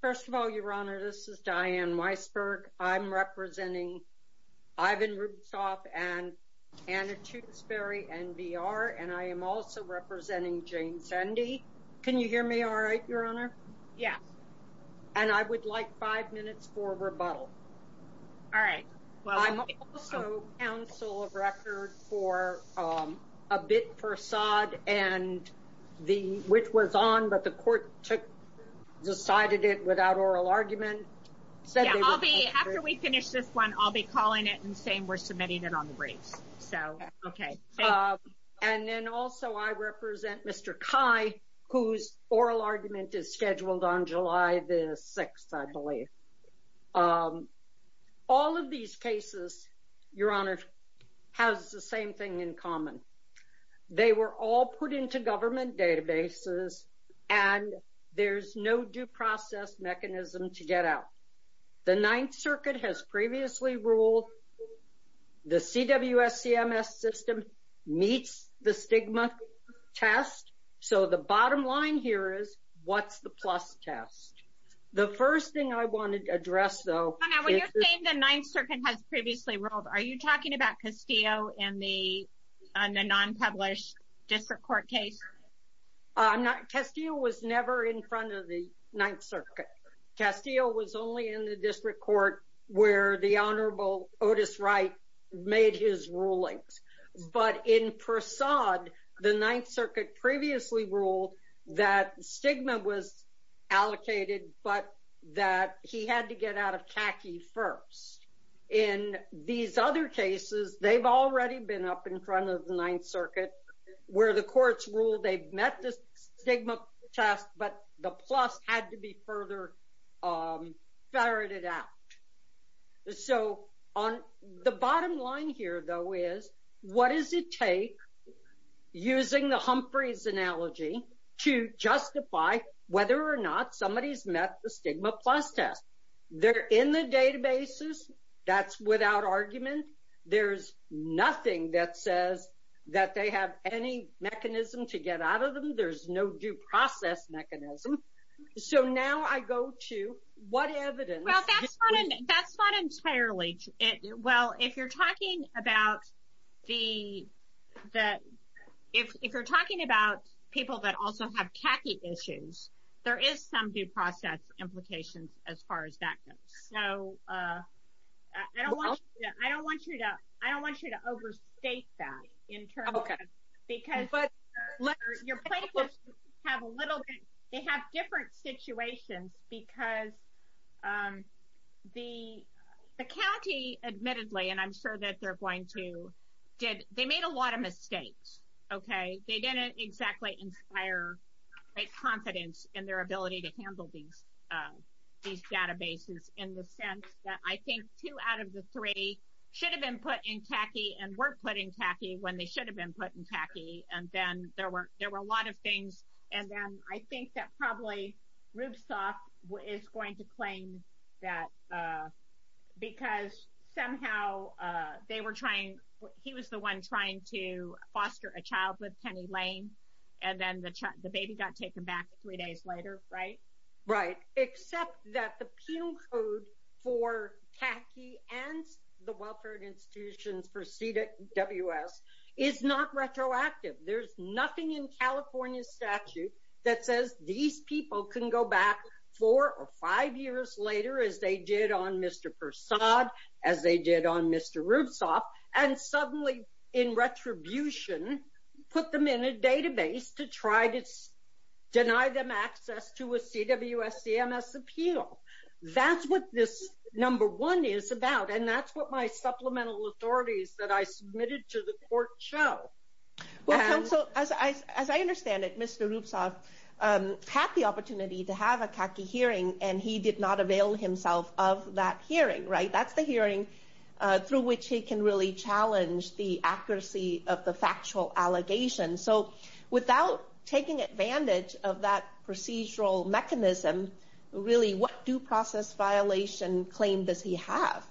first of all your honor this is Diane Weisberg I'm representing Ivan Rubtsov and Anna Tewkesbury NBR and I am also representing Jane Sendi can you hear me all right your honor yeah and I would like five minutes for rebuttal all right well I'm also counsel of record for a bit facade and the which was on but the it without oral argument after we finish this one I'll be calling it and saying we're submitting it on the briefs so okay and then also I represent mr. Kai whose oral argument is scheduled on July the 6th I believe all of these cases your honor has the same thing in common they were all put into government databases and there's no due process mechanism to get out the Ninth Circuit has previously ruled the CWS CMS system meets the stigma test so the bottom line here is what's the plus test the first thing I wanted to address though the Ninth Circuit has previously ruled are you talking about Castillo and me on the unpublished district court case I'm not Castillo was never in front of the Ninth Circuit Castillo was only in the district court where the honorable Otis Wright made his rulings but in Persaud the Ninth Circuit previously ruled that stigma was allocated but that he had to get out of khaki first in these other cases they've already been up in front of the Ninth Circuit where the courts rule they've met this stigma test but the plus had to be further ferreted out so on the bottom line here though is what does it take using the Humphreys analogy to justify whether or not somebody's met the stigma plus test they're in the databases that's without argument there's nothing that says that they have any mechanism to get out of them there's no due process mechanism so now I go to what evidence that's not entirely it well if you're talking about the that if you're talking about people that also have khaki issues there is some due process implications as far as that goes so I don't want you to I don't want you to overstate that okay because but let your place have a little bit they have different situations because the county admittedly and I'm sure that they're going to did they made a lot of mistakes okay they didn't exactly inspire confidence in their ability to handle these databases in the sense that I think two out of the three should have been put in khaki and we're putting khaki when they should have been put in khaki and then there were there were a lot of things and then I think that probably rubes off what is going to claim that because somehow they were trying he was the one trying to foster a baby got taken back three days later right right except that the penal code for khaki and the welfare institutions for CWS is not retroactive there's nothing in California statute that says these people can go back four or five years later as they did on mr. Persaud as they did on mr. Rubes off and suddenly in retribution put them in a database to try to deny them access to a CWS CMS appeal that's what this number one is about and that's what my supplemental authorities that I submitted to the court show well so as I understand it mr. Rubes off had the opportunity to have a khaki hearing and he did not avail himself of that hearing right that's the hearing through which he can really challenge the accuracy of the factual allegation so without taking advantage of that procedural mechanism really what due process violation claim does he have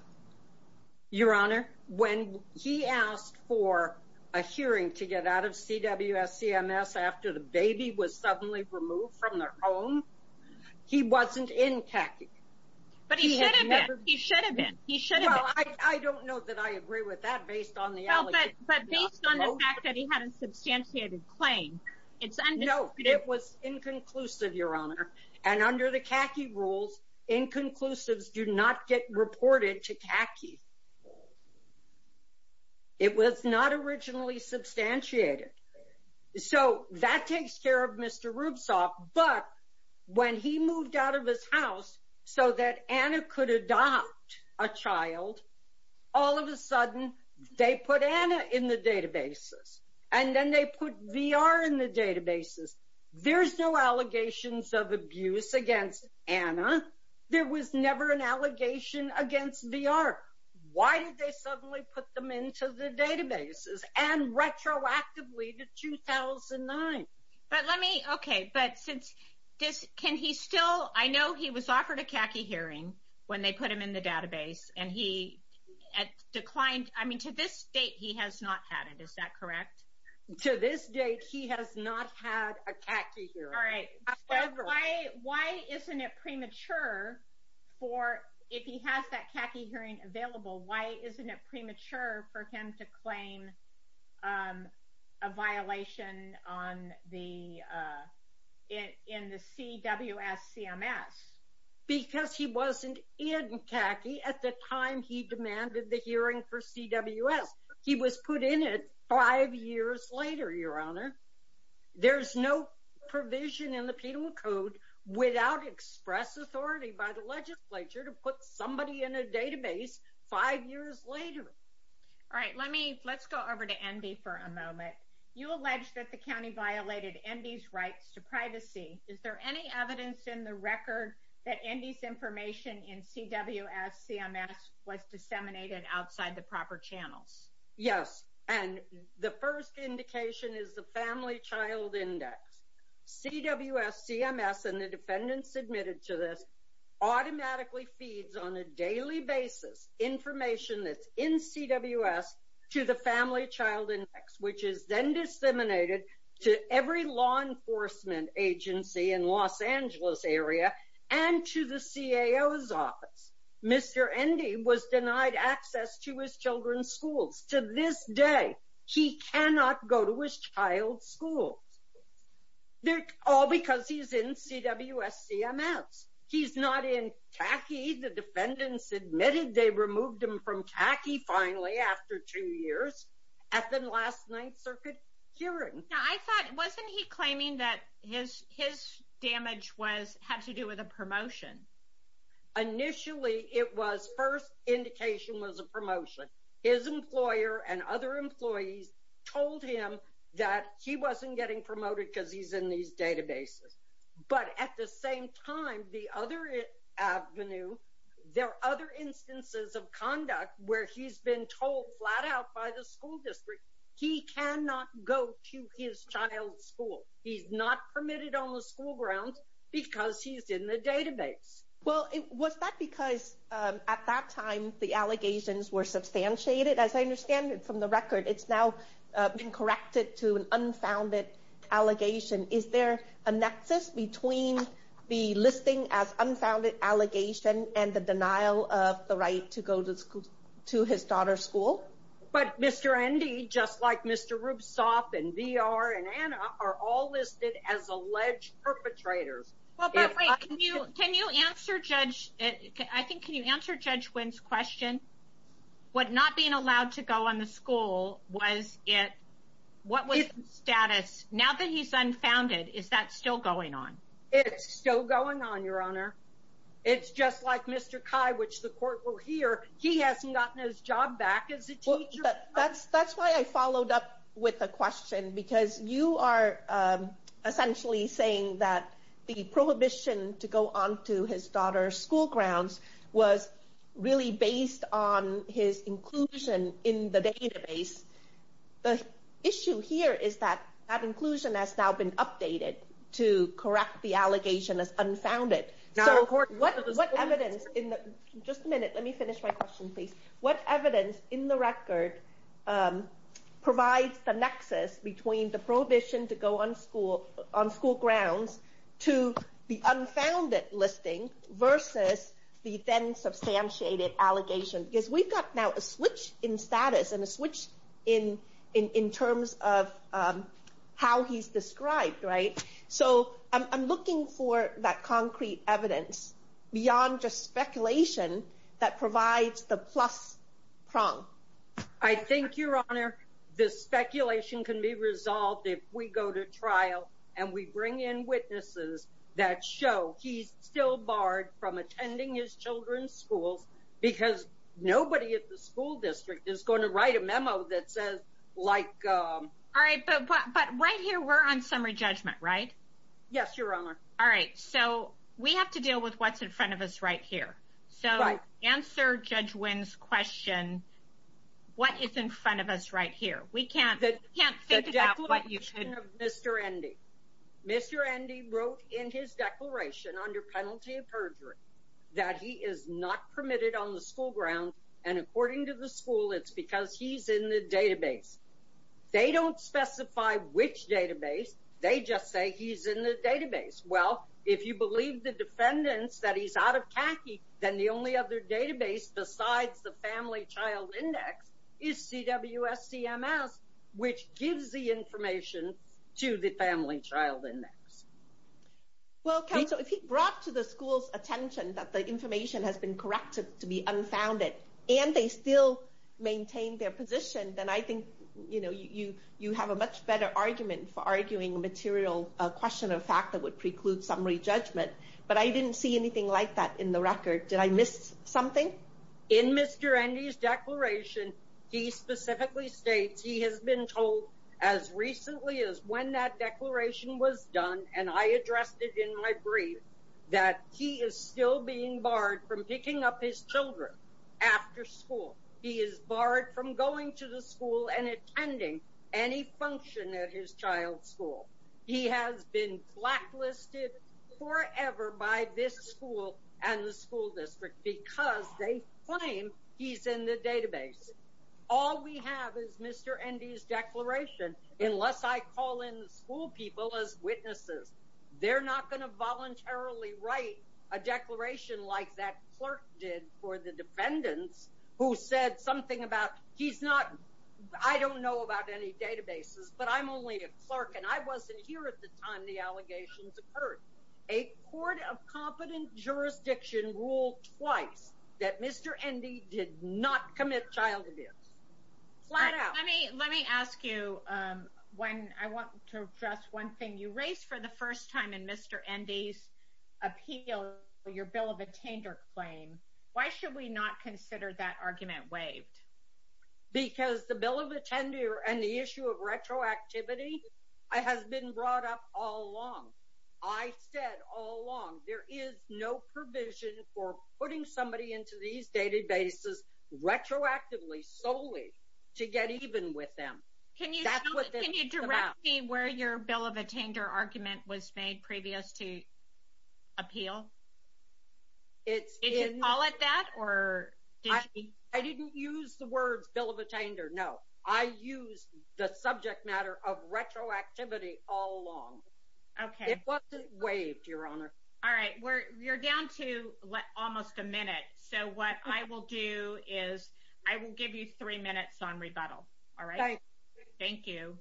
your honor when he asked for a hearing to get out of CWS CMS after the baby was suddenly removed from their home he wasn't in khaki but he had a substantiated claim it's no it was inconclusive your honor and under the khaki rules inconclusives do not get reported to khaki it was not originally substantiated so that takes care of mr. Rubes off but when he moved out of his house so that Anna could adopt a child all of a sudden they put Anna in the databases and then they put VR in the databases there's no allegations of abuse against Anna there was never an allegation against VR why did they suddenly put them into the databases and retroactively to 2009 but let me okay but since this can he still I know he was offered a khaki hearing when they put him in the database and he declined I mean to this date he has not had it is that correct to this date he has not had a khaki all right why why isn't it premature for if he has that khaki hearing available why isn't it in the CWS CMS because he wasn't in khaki at the time he demanded the hearing for CWS he was put in it five years later your honor there's no provision in the penal code without express authority by the legislature to put somebody in a database five years later all right let me let's go over to Andy for a moment you allege that the county violated Andy's rights to privacy is there any evidence in the record that Andy's information in CWS CMS was disseminated outside the proper channels yes and the first indication is the family child index CWS CMS and the defendants admitted to this automatically feeds on a daily basis information that's in CWS to the family child index which is then disseminated to every law enforcement agency in Los Angeles area and to the CAO's office mr. Andy was denied access to his children's schools to this day he cannot go to his child school they're all because he's in CWS CMS he's not in khaki the defendants admitted they removed him from khaki finally after two years at the last Ninth Circuit hearing now I thought wasn't he claiming that his his damage was have to do with a promotion initially it was first indication was a promotion his employer and other employees told him that he wasn't getting promoted because he's in these databases but at the same time the other Avenue there are other instances of told flat-out by the school district he cannot go to his child school he's not permitted on the school grounds because he's in the database well it was that because at that time the allegations were substantiated as I understand it from the record it's now been corrected to an unfounded allegation is there a nexus between the listing as unfounded allegation and the denial of the right to go to school to his daughter's school but mr. Andy just like mr. Rubenstaff and VR and Anna are all listed as alleged perpetrators you can you answer judge I think you answer judge wins question what not being allowed to go on the school was it what was status now that he's unfounded is that still going on it's still going on your honor it's just like mr. Chi which the court will hear he hasn't gotten his job back is it that's that's why I followed up with a question because you are essentially saying that the prohibition to go on to his daughter's school grounds was really based on his inclusion in the database the issue here is that that inclusion has now been updated to correct the allegation as unfounded just a minute let me finish my question please what evidence in the record provides the nexus between the prohibition to go on school on school grounds to the unfounded listing versus the then substantiated allegation because we've got now a switch in status and a switch in in terms of how he's described right so I'm looking for that concrete evidence beyond just speculation that provides the plus prong I think your honor this speculation can be resolved if we go to trial and we bring in witnesses that show he's still barred from attending his children's because nobody at the school district is going to write a memo that says like all right but but right here we're on summary judgment right yes your honor all right so we have to deal with what's in front of us right here so I answer judge wins question what is in front of us right here we can't that can't say what you should mr. Andy mr. Andy wrote in his declaration under penalty of permitted on the school ground and according to the school it's because he's in the database they don't specify which database they just say he's in the database well if you believe the defendants that he's out of khaki then the only other database besides the family child index is CWS CMS which gives the information to the family child index well okay so if he brought to the school's attention that the information has been corrected to be unfounded and they still maintain their position then I think you know you you have a much better argument for arguing a material question of fact that would preclude summary judgment but I didn't see anything like that in the record did I miss something in mr. Andy's declaration he specifically states he has been told as recently as when that declaration was done and I addressed it that he is still being barred from picking up his children after school he is barred from going to the school and attending any function at his child's school he has been blacklisted forever by this school and the school district because they claim he's in the database all we have is mr. Andy's declaration unless I call in school people as witnesses they're not going to voluntarily write a declaration like that clerk did for the defendants who said something about he's not I don't know about any databases but I'm only a clerk and I wasn't here at the time the allegations occurred a court of competent jurisdiction ruled twice that mr. Andy did not commit child abuse let me let me ask you when I want to address one thing you raised for the first time in mr. Andy's appeal your bill of attender claim why should we not consider that argument waived because the bill of attender and the issue of retroactivity I has been brought up all along I said all along there is no provision for putting somebody into these databases retroactively solely to get even with them can you can you direct me where your bill of attainder argument was made previous to appeal it's all at that or I didn't use the words bill of attainder no I used the subject matter of retroactivity all along okay it wasn't waived your honor all right we're you're down to almost a all right thank you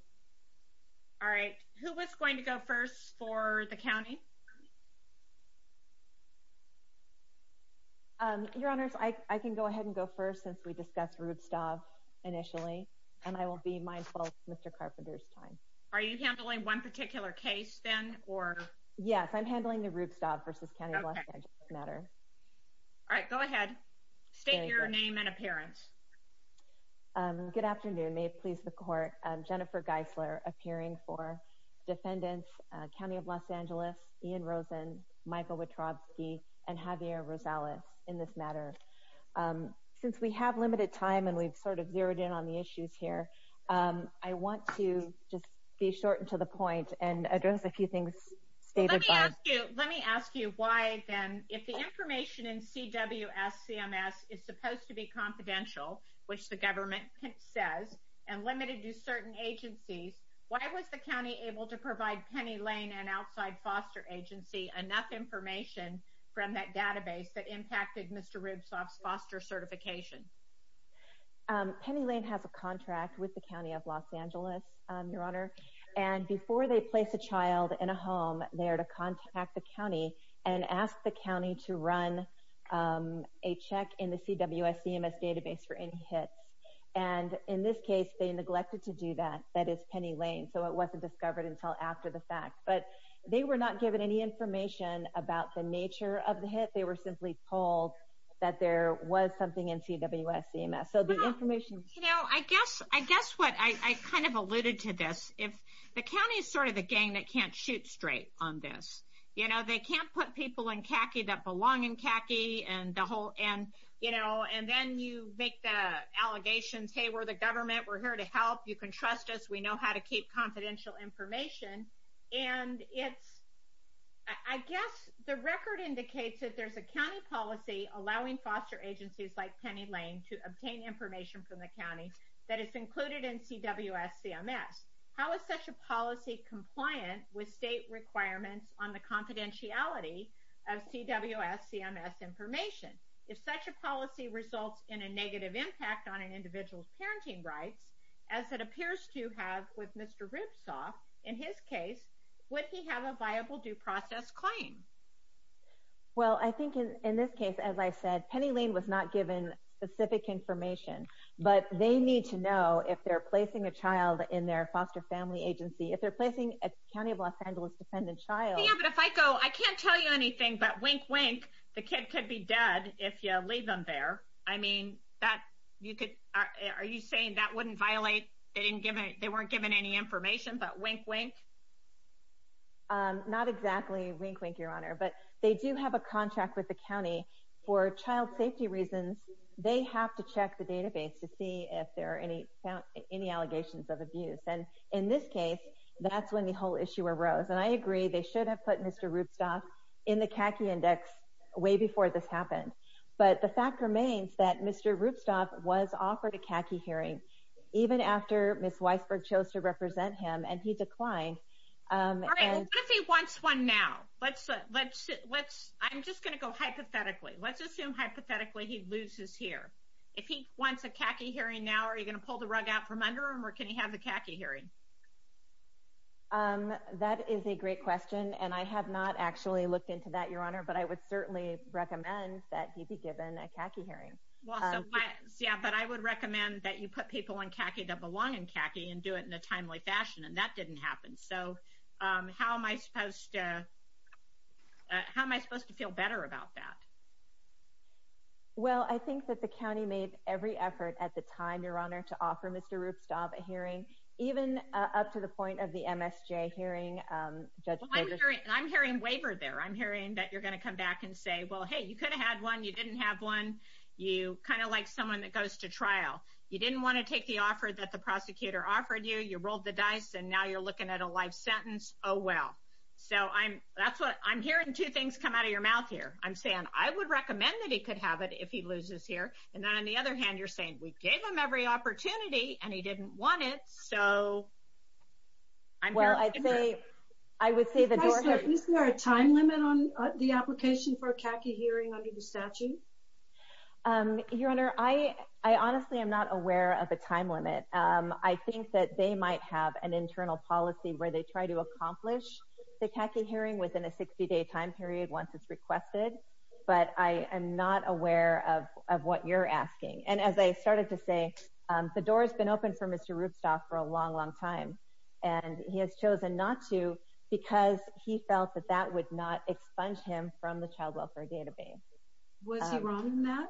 all right who was going to go first for the county your honors I can go ahead and go first since we discussed rude stuff initially and I will be mindful mr. Carpenter's time are you handling one particular case then or yes I'm handling the route stop versus Canada matter all right go ahead state please the court Jennifer Geisler appearing for defendants County of Los Angeles Ian Rosen Michael Wachowski and Javier Rosales in this matter since we have limited time and we've sort of zeroed in on the issues here I want to just be shortened to the point and address a few things let me ask you why then if the information in CWS CMS is supposed to be confidential which the and limited to certain agencies why was the county able to provide Penny Lane and outside foster agency enough information from that database that impacted mr. ribs off foster certification Penny Lane has a contract with the County of Los Angeles your honor and before they place a child in a home there to contact the county and ask the county to run a check in the CWS CMS and in this case they neglected to do that that is Penny Lane so it wasn't discovered until after the fact but they were not given any information about the nature of the hit they were simply told that there was something in CWS CMS so the information you know I guess I guess what I kind of alluded to this if the county is sort of the gang that can't shoot straight on this you know they can't put people in khaki that belong in khaki and the whole and you know and then you make the allegations hey we're the government we're here to help you can trust us we know how to keep confidential information and it's I guess the record indicates that there's a county policy allowing foster agencies like Penny Lane to obtain information from the county that is included in CWS CMS how is such a policy compliant with state requirements on the in a negative impact on an individual's parenting rights as it appears to have with mr. Ripsaw in his case would he have a viable due process claim well I think in this case as I said Penny Lane was not given specific information but they need to know if they're placing a child in their foster family agency if they're placing a county of Los Angeles dependent child but if I go I can't tell you anything but wink wink the kid could be dead if you leave them there I mean that you could are you saying that wouldn't violate they didn't give it they weren't given any information but wink wink not exactly wink wink your honor but they do have a contract with the county for child safety reasons they have to check the database to see if there are any any allegations of abuse and in this case that's when the whole issue arose and I agree they should have put mr. Ripsaw in the khaki index way before this happened but the fact remains that mr. Ripsaw was offered a khaki hearing even after miss Weisberg chose to represent him and he declined if he wants one now let's let's let's I'm just gonna go hypothetically let's assume hypothetically he loses here if he wants a khaki hearing now are you gonna pull the rug out from under him or can you have the khaki hearing um that is a great question and I have not actually looked into that your honor but I would certainly recommend that he be given a khaki hearing yeah but I would recommend that you put people in khaki that belong in khaki and do it in a timely fashion and that didn't happen so how am I supposed to how am I supposed to feel better about that well I think that the county made every effort at the time your honor to offer mr. Ripsaw a hearing even up to the point of the MSJ hearing I'm hearing waiver there I'm hearing that you're gonna come back and say well hey you could have had one you didn't have one you kind of like someone that goes to trial you didn't want to take the offer that the prosecutor offered you you rolled the dice and now you're looking at a life sentence oh well so I'm that's what I'm hearing two things come out of your mouth here I'm saying I would recommend that he could have it if he loses here and then on the other hand you're saying we gave him every opportunity and he didn't want it so I'm well I'd say I would say the door is there a time limit on the application for khaki hearing under the statute your honor I I honestly am not aware of a time limit I think that they might have an internal policy where they try to accomplish the khaki hearing within a 60-day time period once it's requested but I am not aware of what you're asking and as I started to say the door has been open for mr. Rubstaff for a long long time and he has chosen not to because he felt that that would not expunge him from the child welfare database was he wrong in that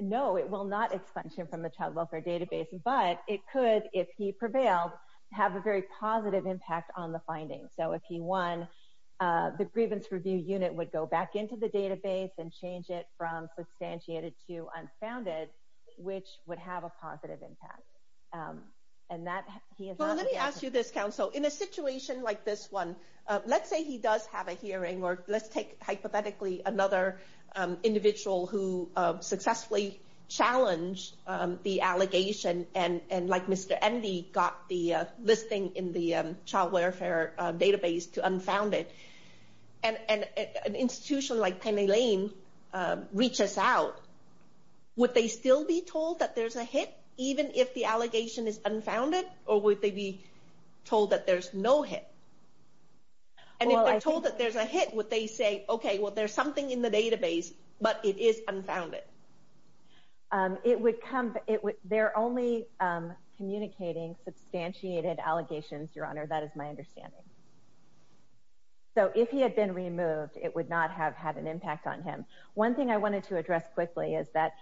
no it will not expunge him from the child welfare database but it could if he prevailed have a very positive impact on the findings so if he won the grievance review unit would go back into the database and change it from substantiated to unfounded which would have a positive impact and that let me ask you this council in a situation like this one let's say he does have a hearing or let's take hypothetically another individual who successfully challenged the allegation and and like mr. Andy got the listing in the child database to unfound it and an institution like Penny Lane reaches out would they still be told that there's a hit even if the allegation is unfounded or would they be told that there's no hit and if I told that there's a hit would they say okay well there's something in the database but it is unfounded it would come it was there only communicating substantiated allegations your honor that is my understanding so if he had been removed it would not have had an impact on him one thing I wanted to address quickly is that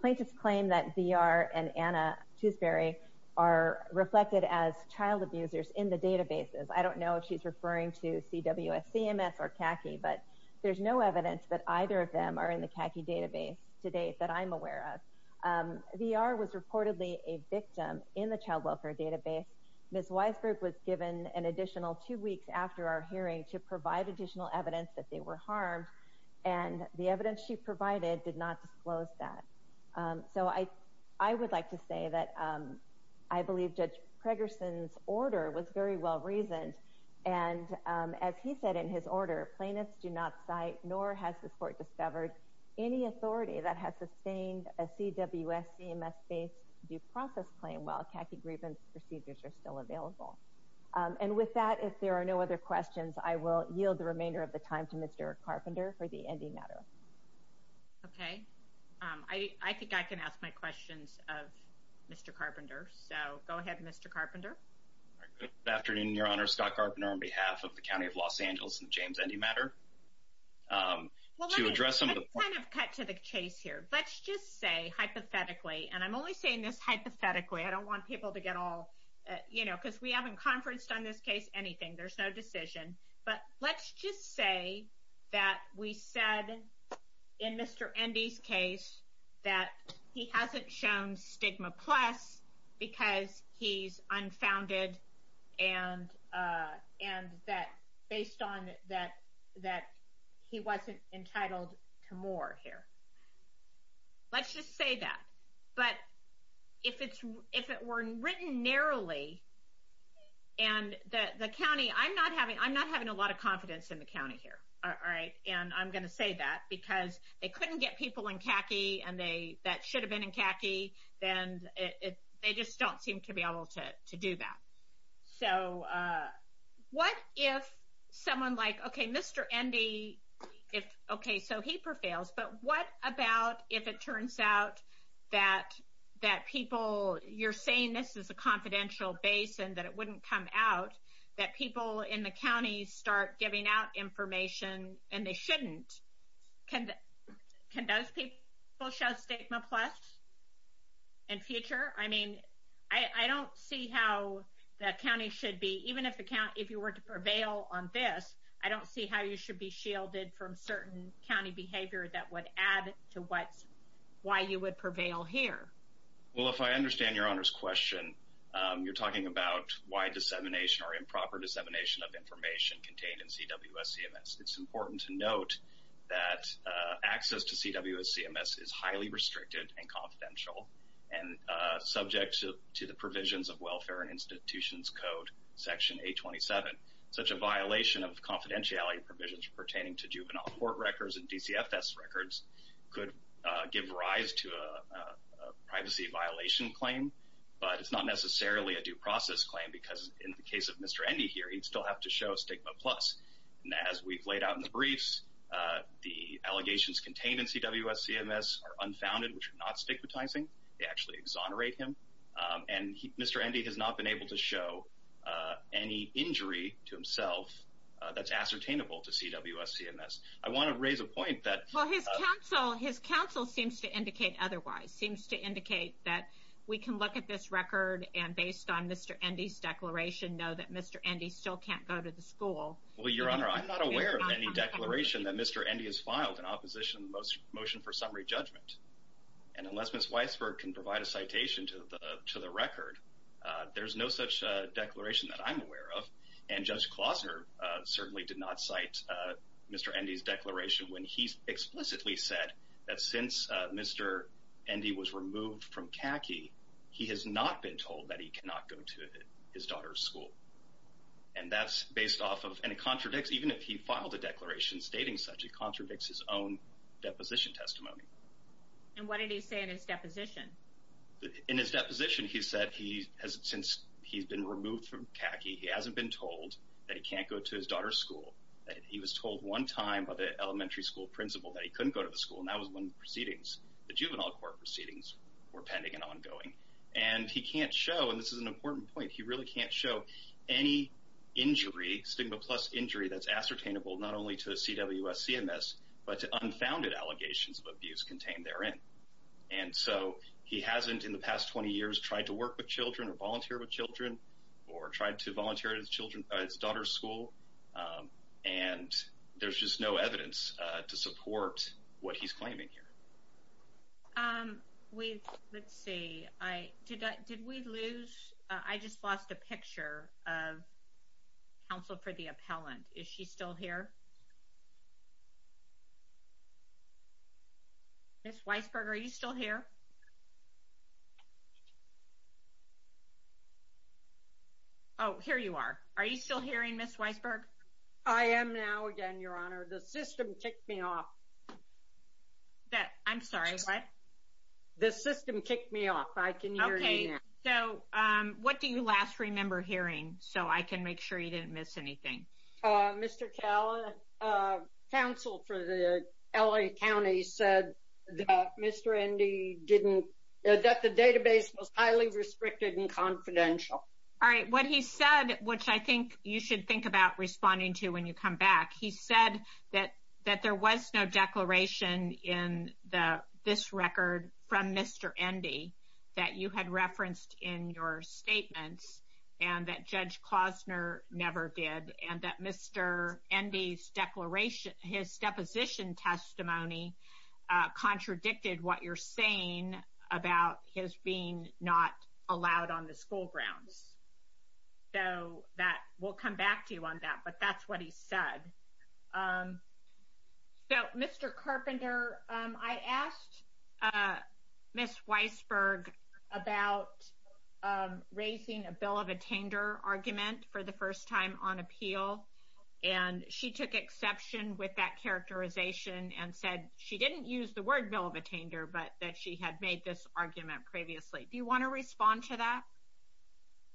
plaintiffs claim that VR and Anna Tewsbury are reflected as child abusers in the databases I don't know if she's referring to CWS CMS or khaki but there's no evidence that either of them are in the khaki database today that I'm reportedly a victim in the child welfare database miss Weisberg was given an additional two weeks after our hearing to provide additional evidence that they were harmed and the evidence she provided did not disclose that so I I would like to say that I believe Judge Preggerson's order was very well reasoned and as he said in his order plaintiffs do not cite nor has the court discovered any authority that has sustained a CWS CMS based due process claim while khaki grievance procedures are still available and with that if there are no other questions I will yield the remainder of the time to mr. Carpenter for the ending matter okay I think I can ask my questions of mr. Carpenter so go ahead mr. Carpenter afternoon your honor Scott Carpenter on behalf of the County of Los kind of cut to the chase here let's just say hypothetically and I'm only saying this hypothetically I don't want people to get all you know because we haven't conferenced on this case anything there's no decision but let's just say that we said in mr. Andy's case that he hasn't shown stigma plus because he's unfounded and and that based on that that he wasn't entitled to more here let's just say that but if it's if it were written narrowly and the county I'm not having I'm not having a lot of confidence in the county here all right and I'm gonna say that because they couldn't get people in khaki and they should have been in khaki then they just don't seem to be able to do that so what if someone like okay mr. Andy if okay so he prevails but what about if it turns out that that people you're saying this is a confidential base and that it wouldn't come out that people in the county start giving out information and they shouldn't can can those people show stigma plus and future I mean I don't see how that county should be even if the count if you were to prevail on this I don't see how you should be shielded from certain County behavior that would add to what's why you would prevail here well if I understand your honors question you're talking about why dissemination or improper dissemination of information contained in CWS CMS it's important to note that access to CWS CMS is highly restricted and confidential and subject to the provisions of Welfare and Institutions Code section 827 such a violation of confidentiality provisions pertaining to juvenile court records and DCFS records could give rise to a privacy violation claim but it's not necessarily a due to show stigma plus and as we've laid out in the briefs the allegations contained in CWS CMS are unfounded which are not stigmatizing they actually exonerate him and mr. Andy has not been able to show any injury to himself that's ascertainable to CWS CMS I want to raise a point that well his counsel his counsel seems to indicate otherwise seems to indicate that we can look at this record and based on mr. Andy's declaration know that mr. Andy still can't go to the school well your honor I'm not aware of any declaration that mr. Andy has filed an opposition most motion for summary judgment and unless miss Weisberg can provide a citation to the to the record there's no such declaration that I'm aware of and judge Klausner certainly did not cite mr. Andy's declaration when he's explicitly said that since mr. Andy was removed from khaki he has not been told that he cannot go to his daughter's school and that's based off of and it contradicts even if he filed a declaration stating such it contradicts his own deposition testimony and what did he say in his deposition in his deposition he said he has since he's been removed from khaki he hasn't been told that he can't go to his daughter's school he was told one time by the elementary school principal that he couldn't go to the school and that was one proceedings the juvenile court proceedings were pending and ongoing and he can't show and this is an important point he really can't show any injury stigma plus injury that's ascertainable not only to the CWS CMS but to unfounded allegations of abuse contained therein and so he hasn't in the past 20 years tried to work with children or volunteer with children or tried to volunteer his children by his daughter's school and there's just no evidence to support what he's claiming here we let's see I did we lose I just counsel for the appellant is she still here miss Weisberg are you still here oh here you are are you still hearing miss Weisberg I am now again your honor the system kicked me off that I'm sorry what this system kicked me off I can okay so what do you last remember hearing so I can make sure you didn't miss anything mr. Cala counsel for the LA County said mr. Indy didn't that the database was highly restricted and confidential all right what he said which I think you should think about responding to when you come back he said that that there was no declaration in the this record from mr. Indy that you had referenced in your statements and that judge Claus never did and that mr. Indy's declaration his deposition testimony contradicted what you're saying about his being not allowed on the school grounds so that will come back to you on that but that's what he said so mr. the first time on appeal and she took exception with that characterization and said she didn't use the word bill of attainder but that she had made this argument previously do you want to respond to that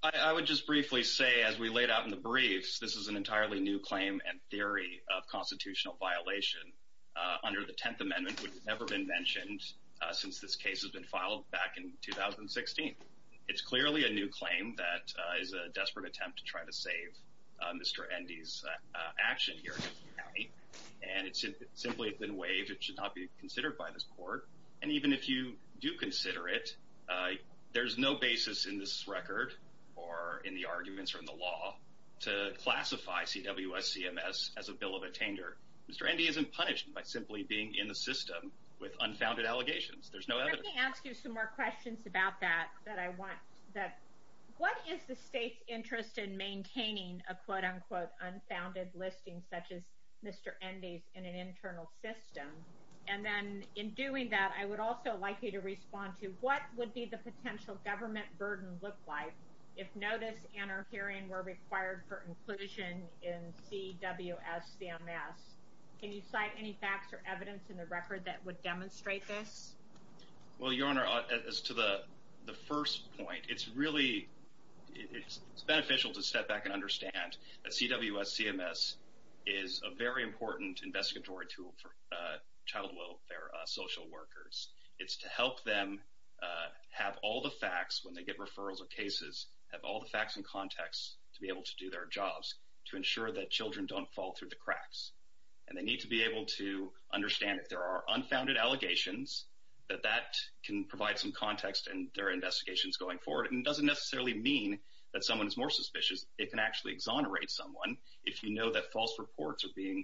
I would just briefly say as we laid out in the briefs this is an entirely new claim and theory of constitutional violation under the Tenth Amendment which has never been mentioned since this case has been filed back in 2016 it's clearly a new claim that is a mr. Andy's action here and it simply has been waived it should not be considered by this court and even if you do consider it there's no basis in this record or in the arguments from the law to classify CWS CMS as a bill of attainder mr. Andy isn't punished by simply being in the system with unfounded allegations there's no ask you some more questions about that that I quote-unquote unfounded listings such as mr. Andy's in an internal system and then in doing that I would also like you to respond to what would be the potential government burden look like if notice and our hearing were required for inclusion in CWS CMS can you cite any facts or evidence in the record that would demonstrate this well your honor as to the the first point it's really beneficial to step back and understand that CWS CMS is a very important investigatory tool for child welfare social workers it's to help them have all the facts when they get referrals of cases have all the facts and context to be able to do their jobs to ensure that children don't fall through the cracks and they need to be able to understand if there are unfounded allegations that that can provide some context and their investigations going forward and doesn't necessarily mean that someone is more suspicious it can actually exonerate someone if you know that false reports are being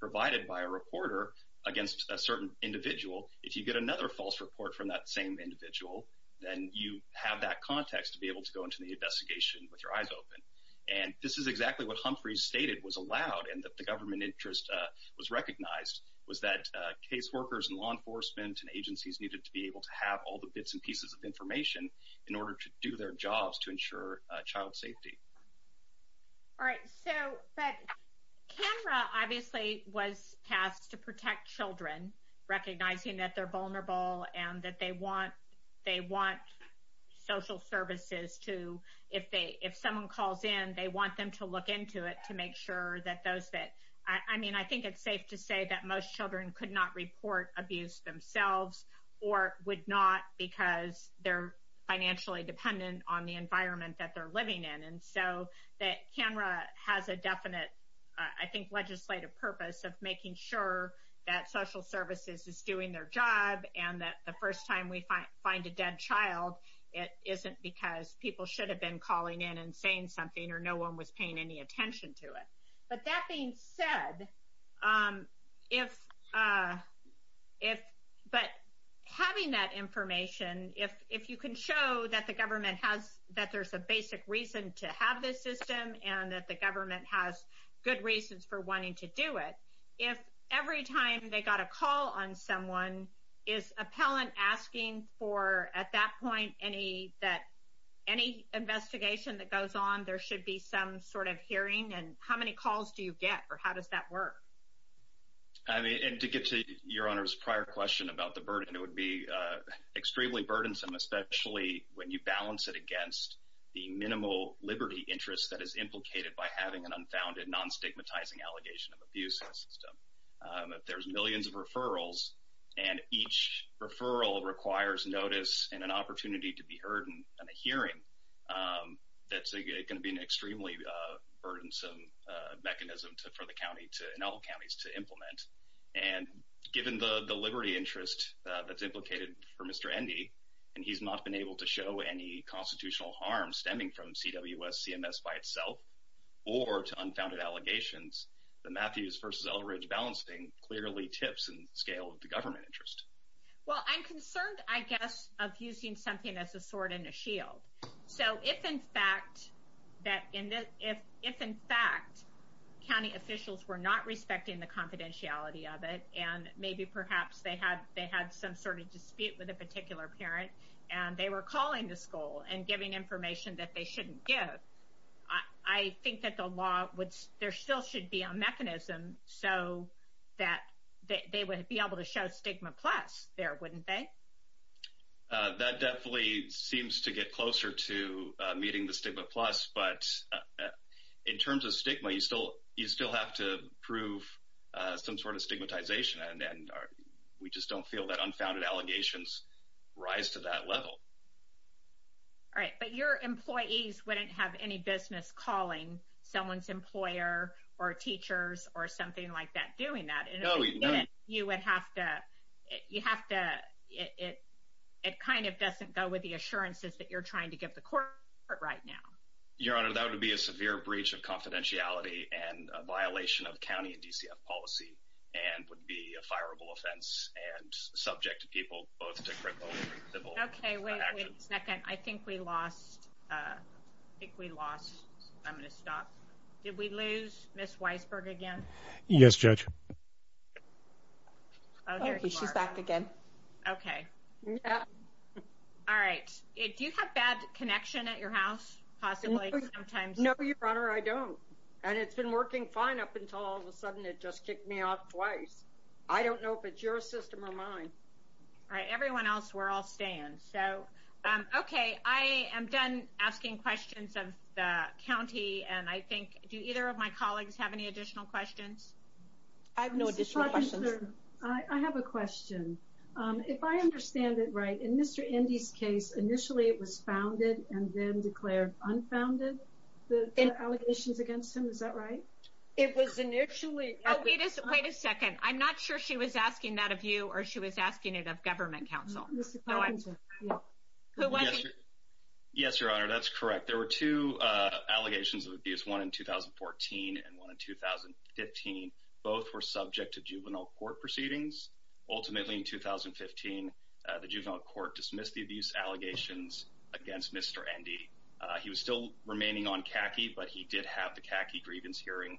provided by a reporter against a certain individual if you get another false report from that same individual then you have that context to be able to go into the investigation with your eyes open and this is exactly what Humphrey stated was allowed and that the government interest was recognized was that caseworkers and law enforcement and agencies needed to be able to have all the bits and pieces of information in their jobs to ensure child safety all right so but camera obviously was passed to protect children recognizing that they're vulnerable and that they want they want social services to if they if someone calls in they want them to look into it to make sure that those that I mean I think it's safe to say that most children could not report abuse themselves or would not because they're financially dependent on the environment that they're living in and so that camera has a definite I think legislative purpose of making sure that social services is doing their job and that the first time we find a dead child it isn't because people should have been calling in and saying something or no one was paying any attention to it but that being said if if but having that information if if you can show that the government has that there's a basic reason to have this system and that the government has good reasons for wanting to do it if every time they got a call on someone is appellant asking for at that point any that any investigation that goes on there should be some sort of hearing and how many calls do you get or how does that work I mean and to get to your honors prior question about the burden it would be extremely burdensome especially when you balance it against the minimal Liberty interest that is implicated by having an unfounded non stigmatizing allegation of abuse in the system if there's millions of referrals and each referral requires notice and an opportunity to be heard and a hearing that's gonna be an extremely burdensome mechanism to for the county to in all counties to implement and given the the Liberty interest that's implicated for mr. Endy and he's not been able to show any constitutional harm stemming from CWS CMS by itself or to unfounded allegations the Matthews versus Eldridge balancing clearly tips and scale of the government interest well I'm concerned I guess of using something as a sword in fact county officials were not respecting the confidentiality of it and maybe perhaps they had they had some sort of dispute with a particular parent and they were calling the school and giving information that they shouldn't give I think that the law would there still should be a mechanism so that they would be able to show stigma plus there wouldn't they that definitely seems to stigma you still you still have to prove some sort of stigmatization and then we just don't feel that unfounded allegations rise to that level all right but your employees wouldn't have any business calling someone's employer or teachers or something like that doing that and you would have to you have to it it kind of doesn't go with the assurances that you're trying to give the court right now your honor that would be a severe breach of confidentiality and a violation of County and DCF policy and would be a fireable offense and subject to people I think we lost I'm gonna stop did we lose yes judge okay all right do you have bad connection at your house possibly sometimes no your honor I don't and it's been working fine up until all of a sudden it just kicked me off twice I don't know if it's your system or mine all right everyone else we're all staying so okay I am done asking questions of the county and I think do either of my colleagues have any additional questions I have no additional I have a question if I understand it right in mr. Indy's case initially it was founded and then declared unfounded the allegations against him is that right it was initially it is wait a second I'm not sure she was asking that of you or she was asking it of government counsel yes your honor that's correct there were two allegations of abuse one in 2014 and one in 2015 both were subject to juvenile court proceedings ultimately in 2015 the juvenile court dismissed the abuse allegations against mr. Indy he was still remaining on khaki but he did have the khaki grievance hearing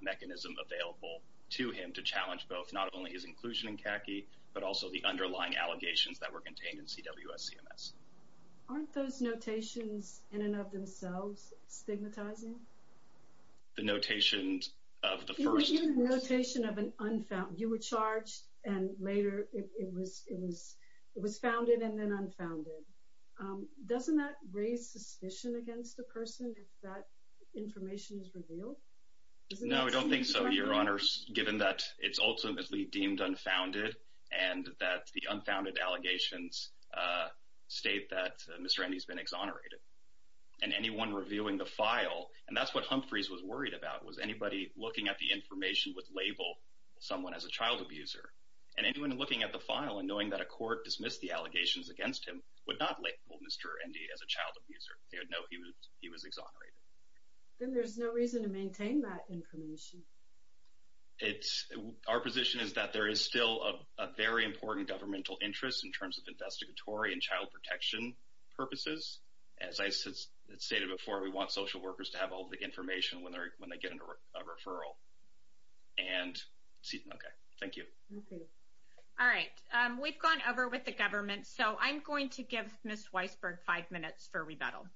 mechanism available to him to challenge both not only his inclusion in khaki but also the underlying allegations that were contained in CWS CMS aren't those notations in and of themselves stigmatizing the notations of the first notation of an unfound you were charged and later it was it was it was founded and then unfounded doesn't that raise suspicion against the person if that information is revealed no I don't think given that it's ultimately deemed unfounded and that the unfounded allegations state that mr. Andy's been exonerated and anyone reviewing the file and that's what Humphreys was worried about was anybody looking at the information with label someone as a child abuser and anyone looking at the file and knowing that a court dismissed the allegations against him would not label mr. Andy as a child abuser they would know he was he was exonerated then it's our position is that there is still a very important governmental interest in terms of investigatory and child protection purposes as I said stated before we want social workers to have all the information when they're when they get into a referral and see okay thank you all right we've gone over with the government so I'm going to give miss Weisberg five minutes for rebuttal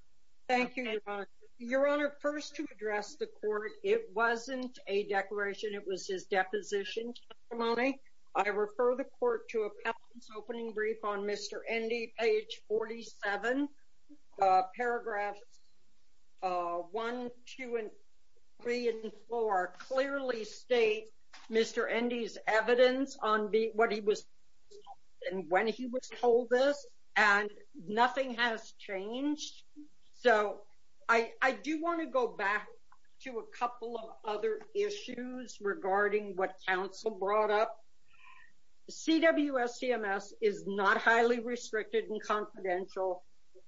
thank it was his deposition money I refer the court to a opening brief on mr. Andy page 47 paragraphs 1 2 & 3 & 4 clearly state mr. Andy's evidence on beat what he was and when he was told this and nothing has changed so I I do want to go to a couple of other issues regarding what counsel brought up the CWS CMS is not highly restricted and confidential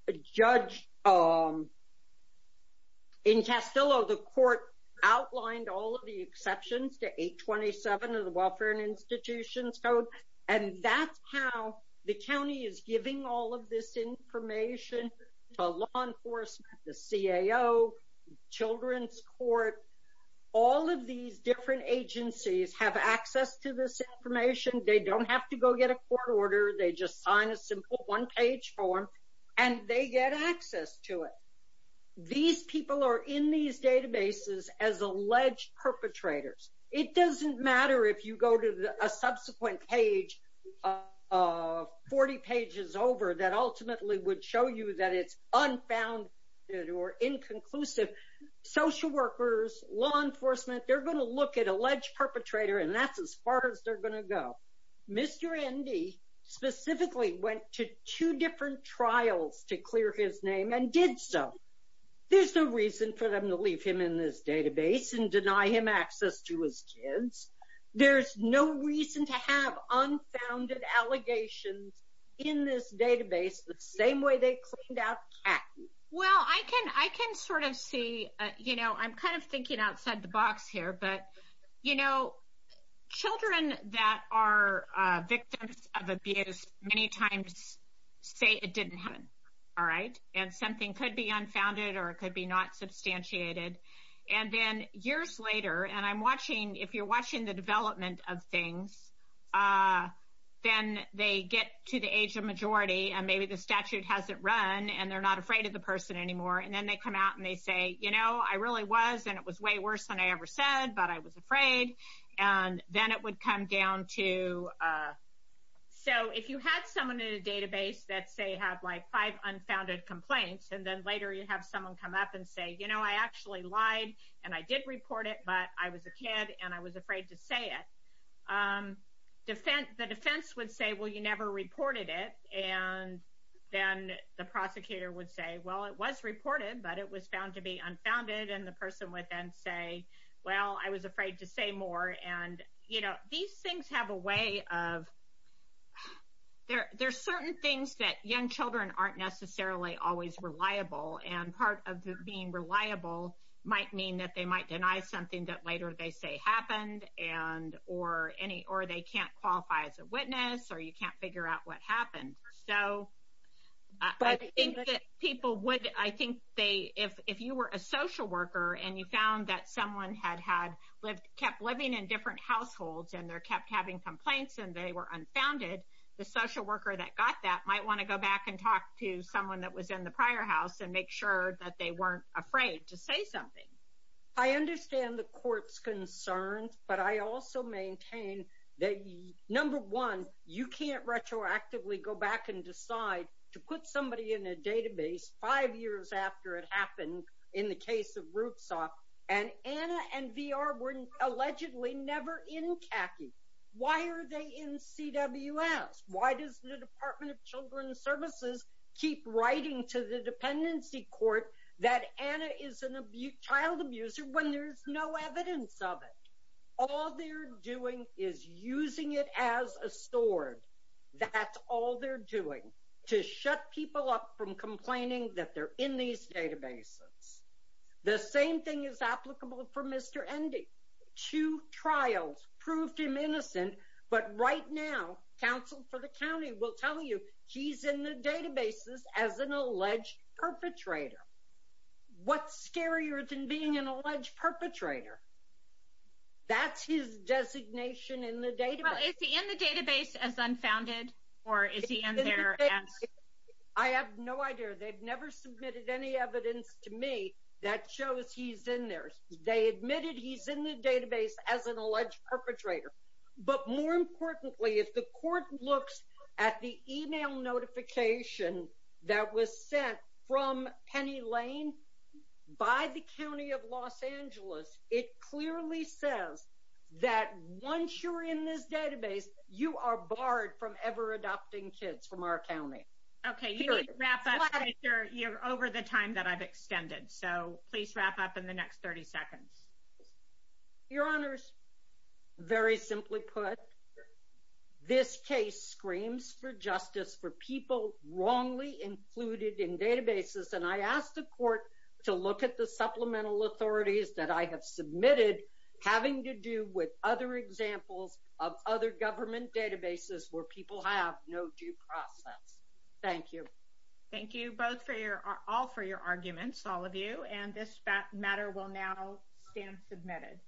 a judge in Castillo the court outlined all of the exceptions to 827 of the Welfare and Institutions Code and that's how the county is giving all of this information to law enforcement the CAO Children's Court all of these different agencies have access to this information they don't have to go get a court order they just sign a simple one-page form and they get access to it these people are in these databases as alleged perpetrators it doesn't matter if you go to a subsequent page of 40 pages over that ultimately would show you that it's unfound or inconclusive social workers law enforcement they're going to look at alleged perpetrator and that's as far as they're going to go mr. Andy specifically went to two different trials to clear his name and did so there's no reason for them to leave him in this database and deny him access to his kids there's no reason to have unfounded allegations in this database the same way they cleaned out well I can I can sort of see you know I'm kind of thinking outside the box here but you know children that are victims of abuse many times say it didn't happen all right and something could be unfounded or it could be not substantiated and then years later and I'm watching if you're watching the development of things then they get to the age of majority and maybe the statute hasn't run and they're not afraid of the person anymore and then they come out and they say you know I really was and it was way worse than I ever said but I was afraid and then it would come down to so if you had someone in a database that say have like five unfounded complaints and then later you have someone come up and say you know I actually lied and I did report it but I was a kid and I was defense the defense would say well you never reported it and then the prosecutor would say well it was reported but it was found to be unfounded and the person would then say well I was afraid to say more and you know these things have a way of there there's certain things that young children aren't necessarily always reliable and part of being reliable might mean that they might deny something that later they say happened and or any or they can't qualify as a witness or you can't figure out what happened so I think that people would I think they if if you were a social worker and you found that someone had had lived kept living in different households and they're kept having complaints and they were unfounded the social worker that got that might want to go back and talk to someone that was in the prior house and make sure that they weren't afraid to say something I understand the court's concerns but I also maintain that number one you can't retroactively go back and decide to put somebody in a database five years after it happened in the case of roots off and Anna and VR weren't allegedly never in khaki why are they in CWS why does the child abuser when there's no evidence of it all they're doing is using it as a sword that's all they're doing to shut people up from complaining that they're in these databases the same thing is applicable for mr. Andy to trials proved him innocent but right now counsel for the county will tell you he's in the what's scarier than being an alleged perpetrator that's his designation in the database as unfounded or is he in there I have no idea they've never submitted any evidence to me that shows he's in there they admitted he's in the database as an alleged perpetrator but more importantly if the court looks at the email notification that was sent from Penny Lane by the County of Los Angeles it clearly says that once you're in this database you are barred from ever adopting kids from our County okay you're over the time that I've extended so please wrap up in the next 30 seconds your honors very simply put this case screams for justice for people wrongly included in databases and I asked the court to look at the supplemental authorities that I have submitted having to do with other examples of other government databases where people have no due process thank you thank you both for your are all for your arguments all of you and this matter will now stand submitted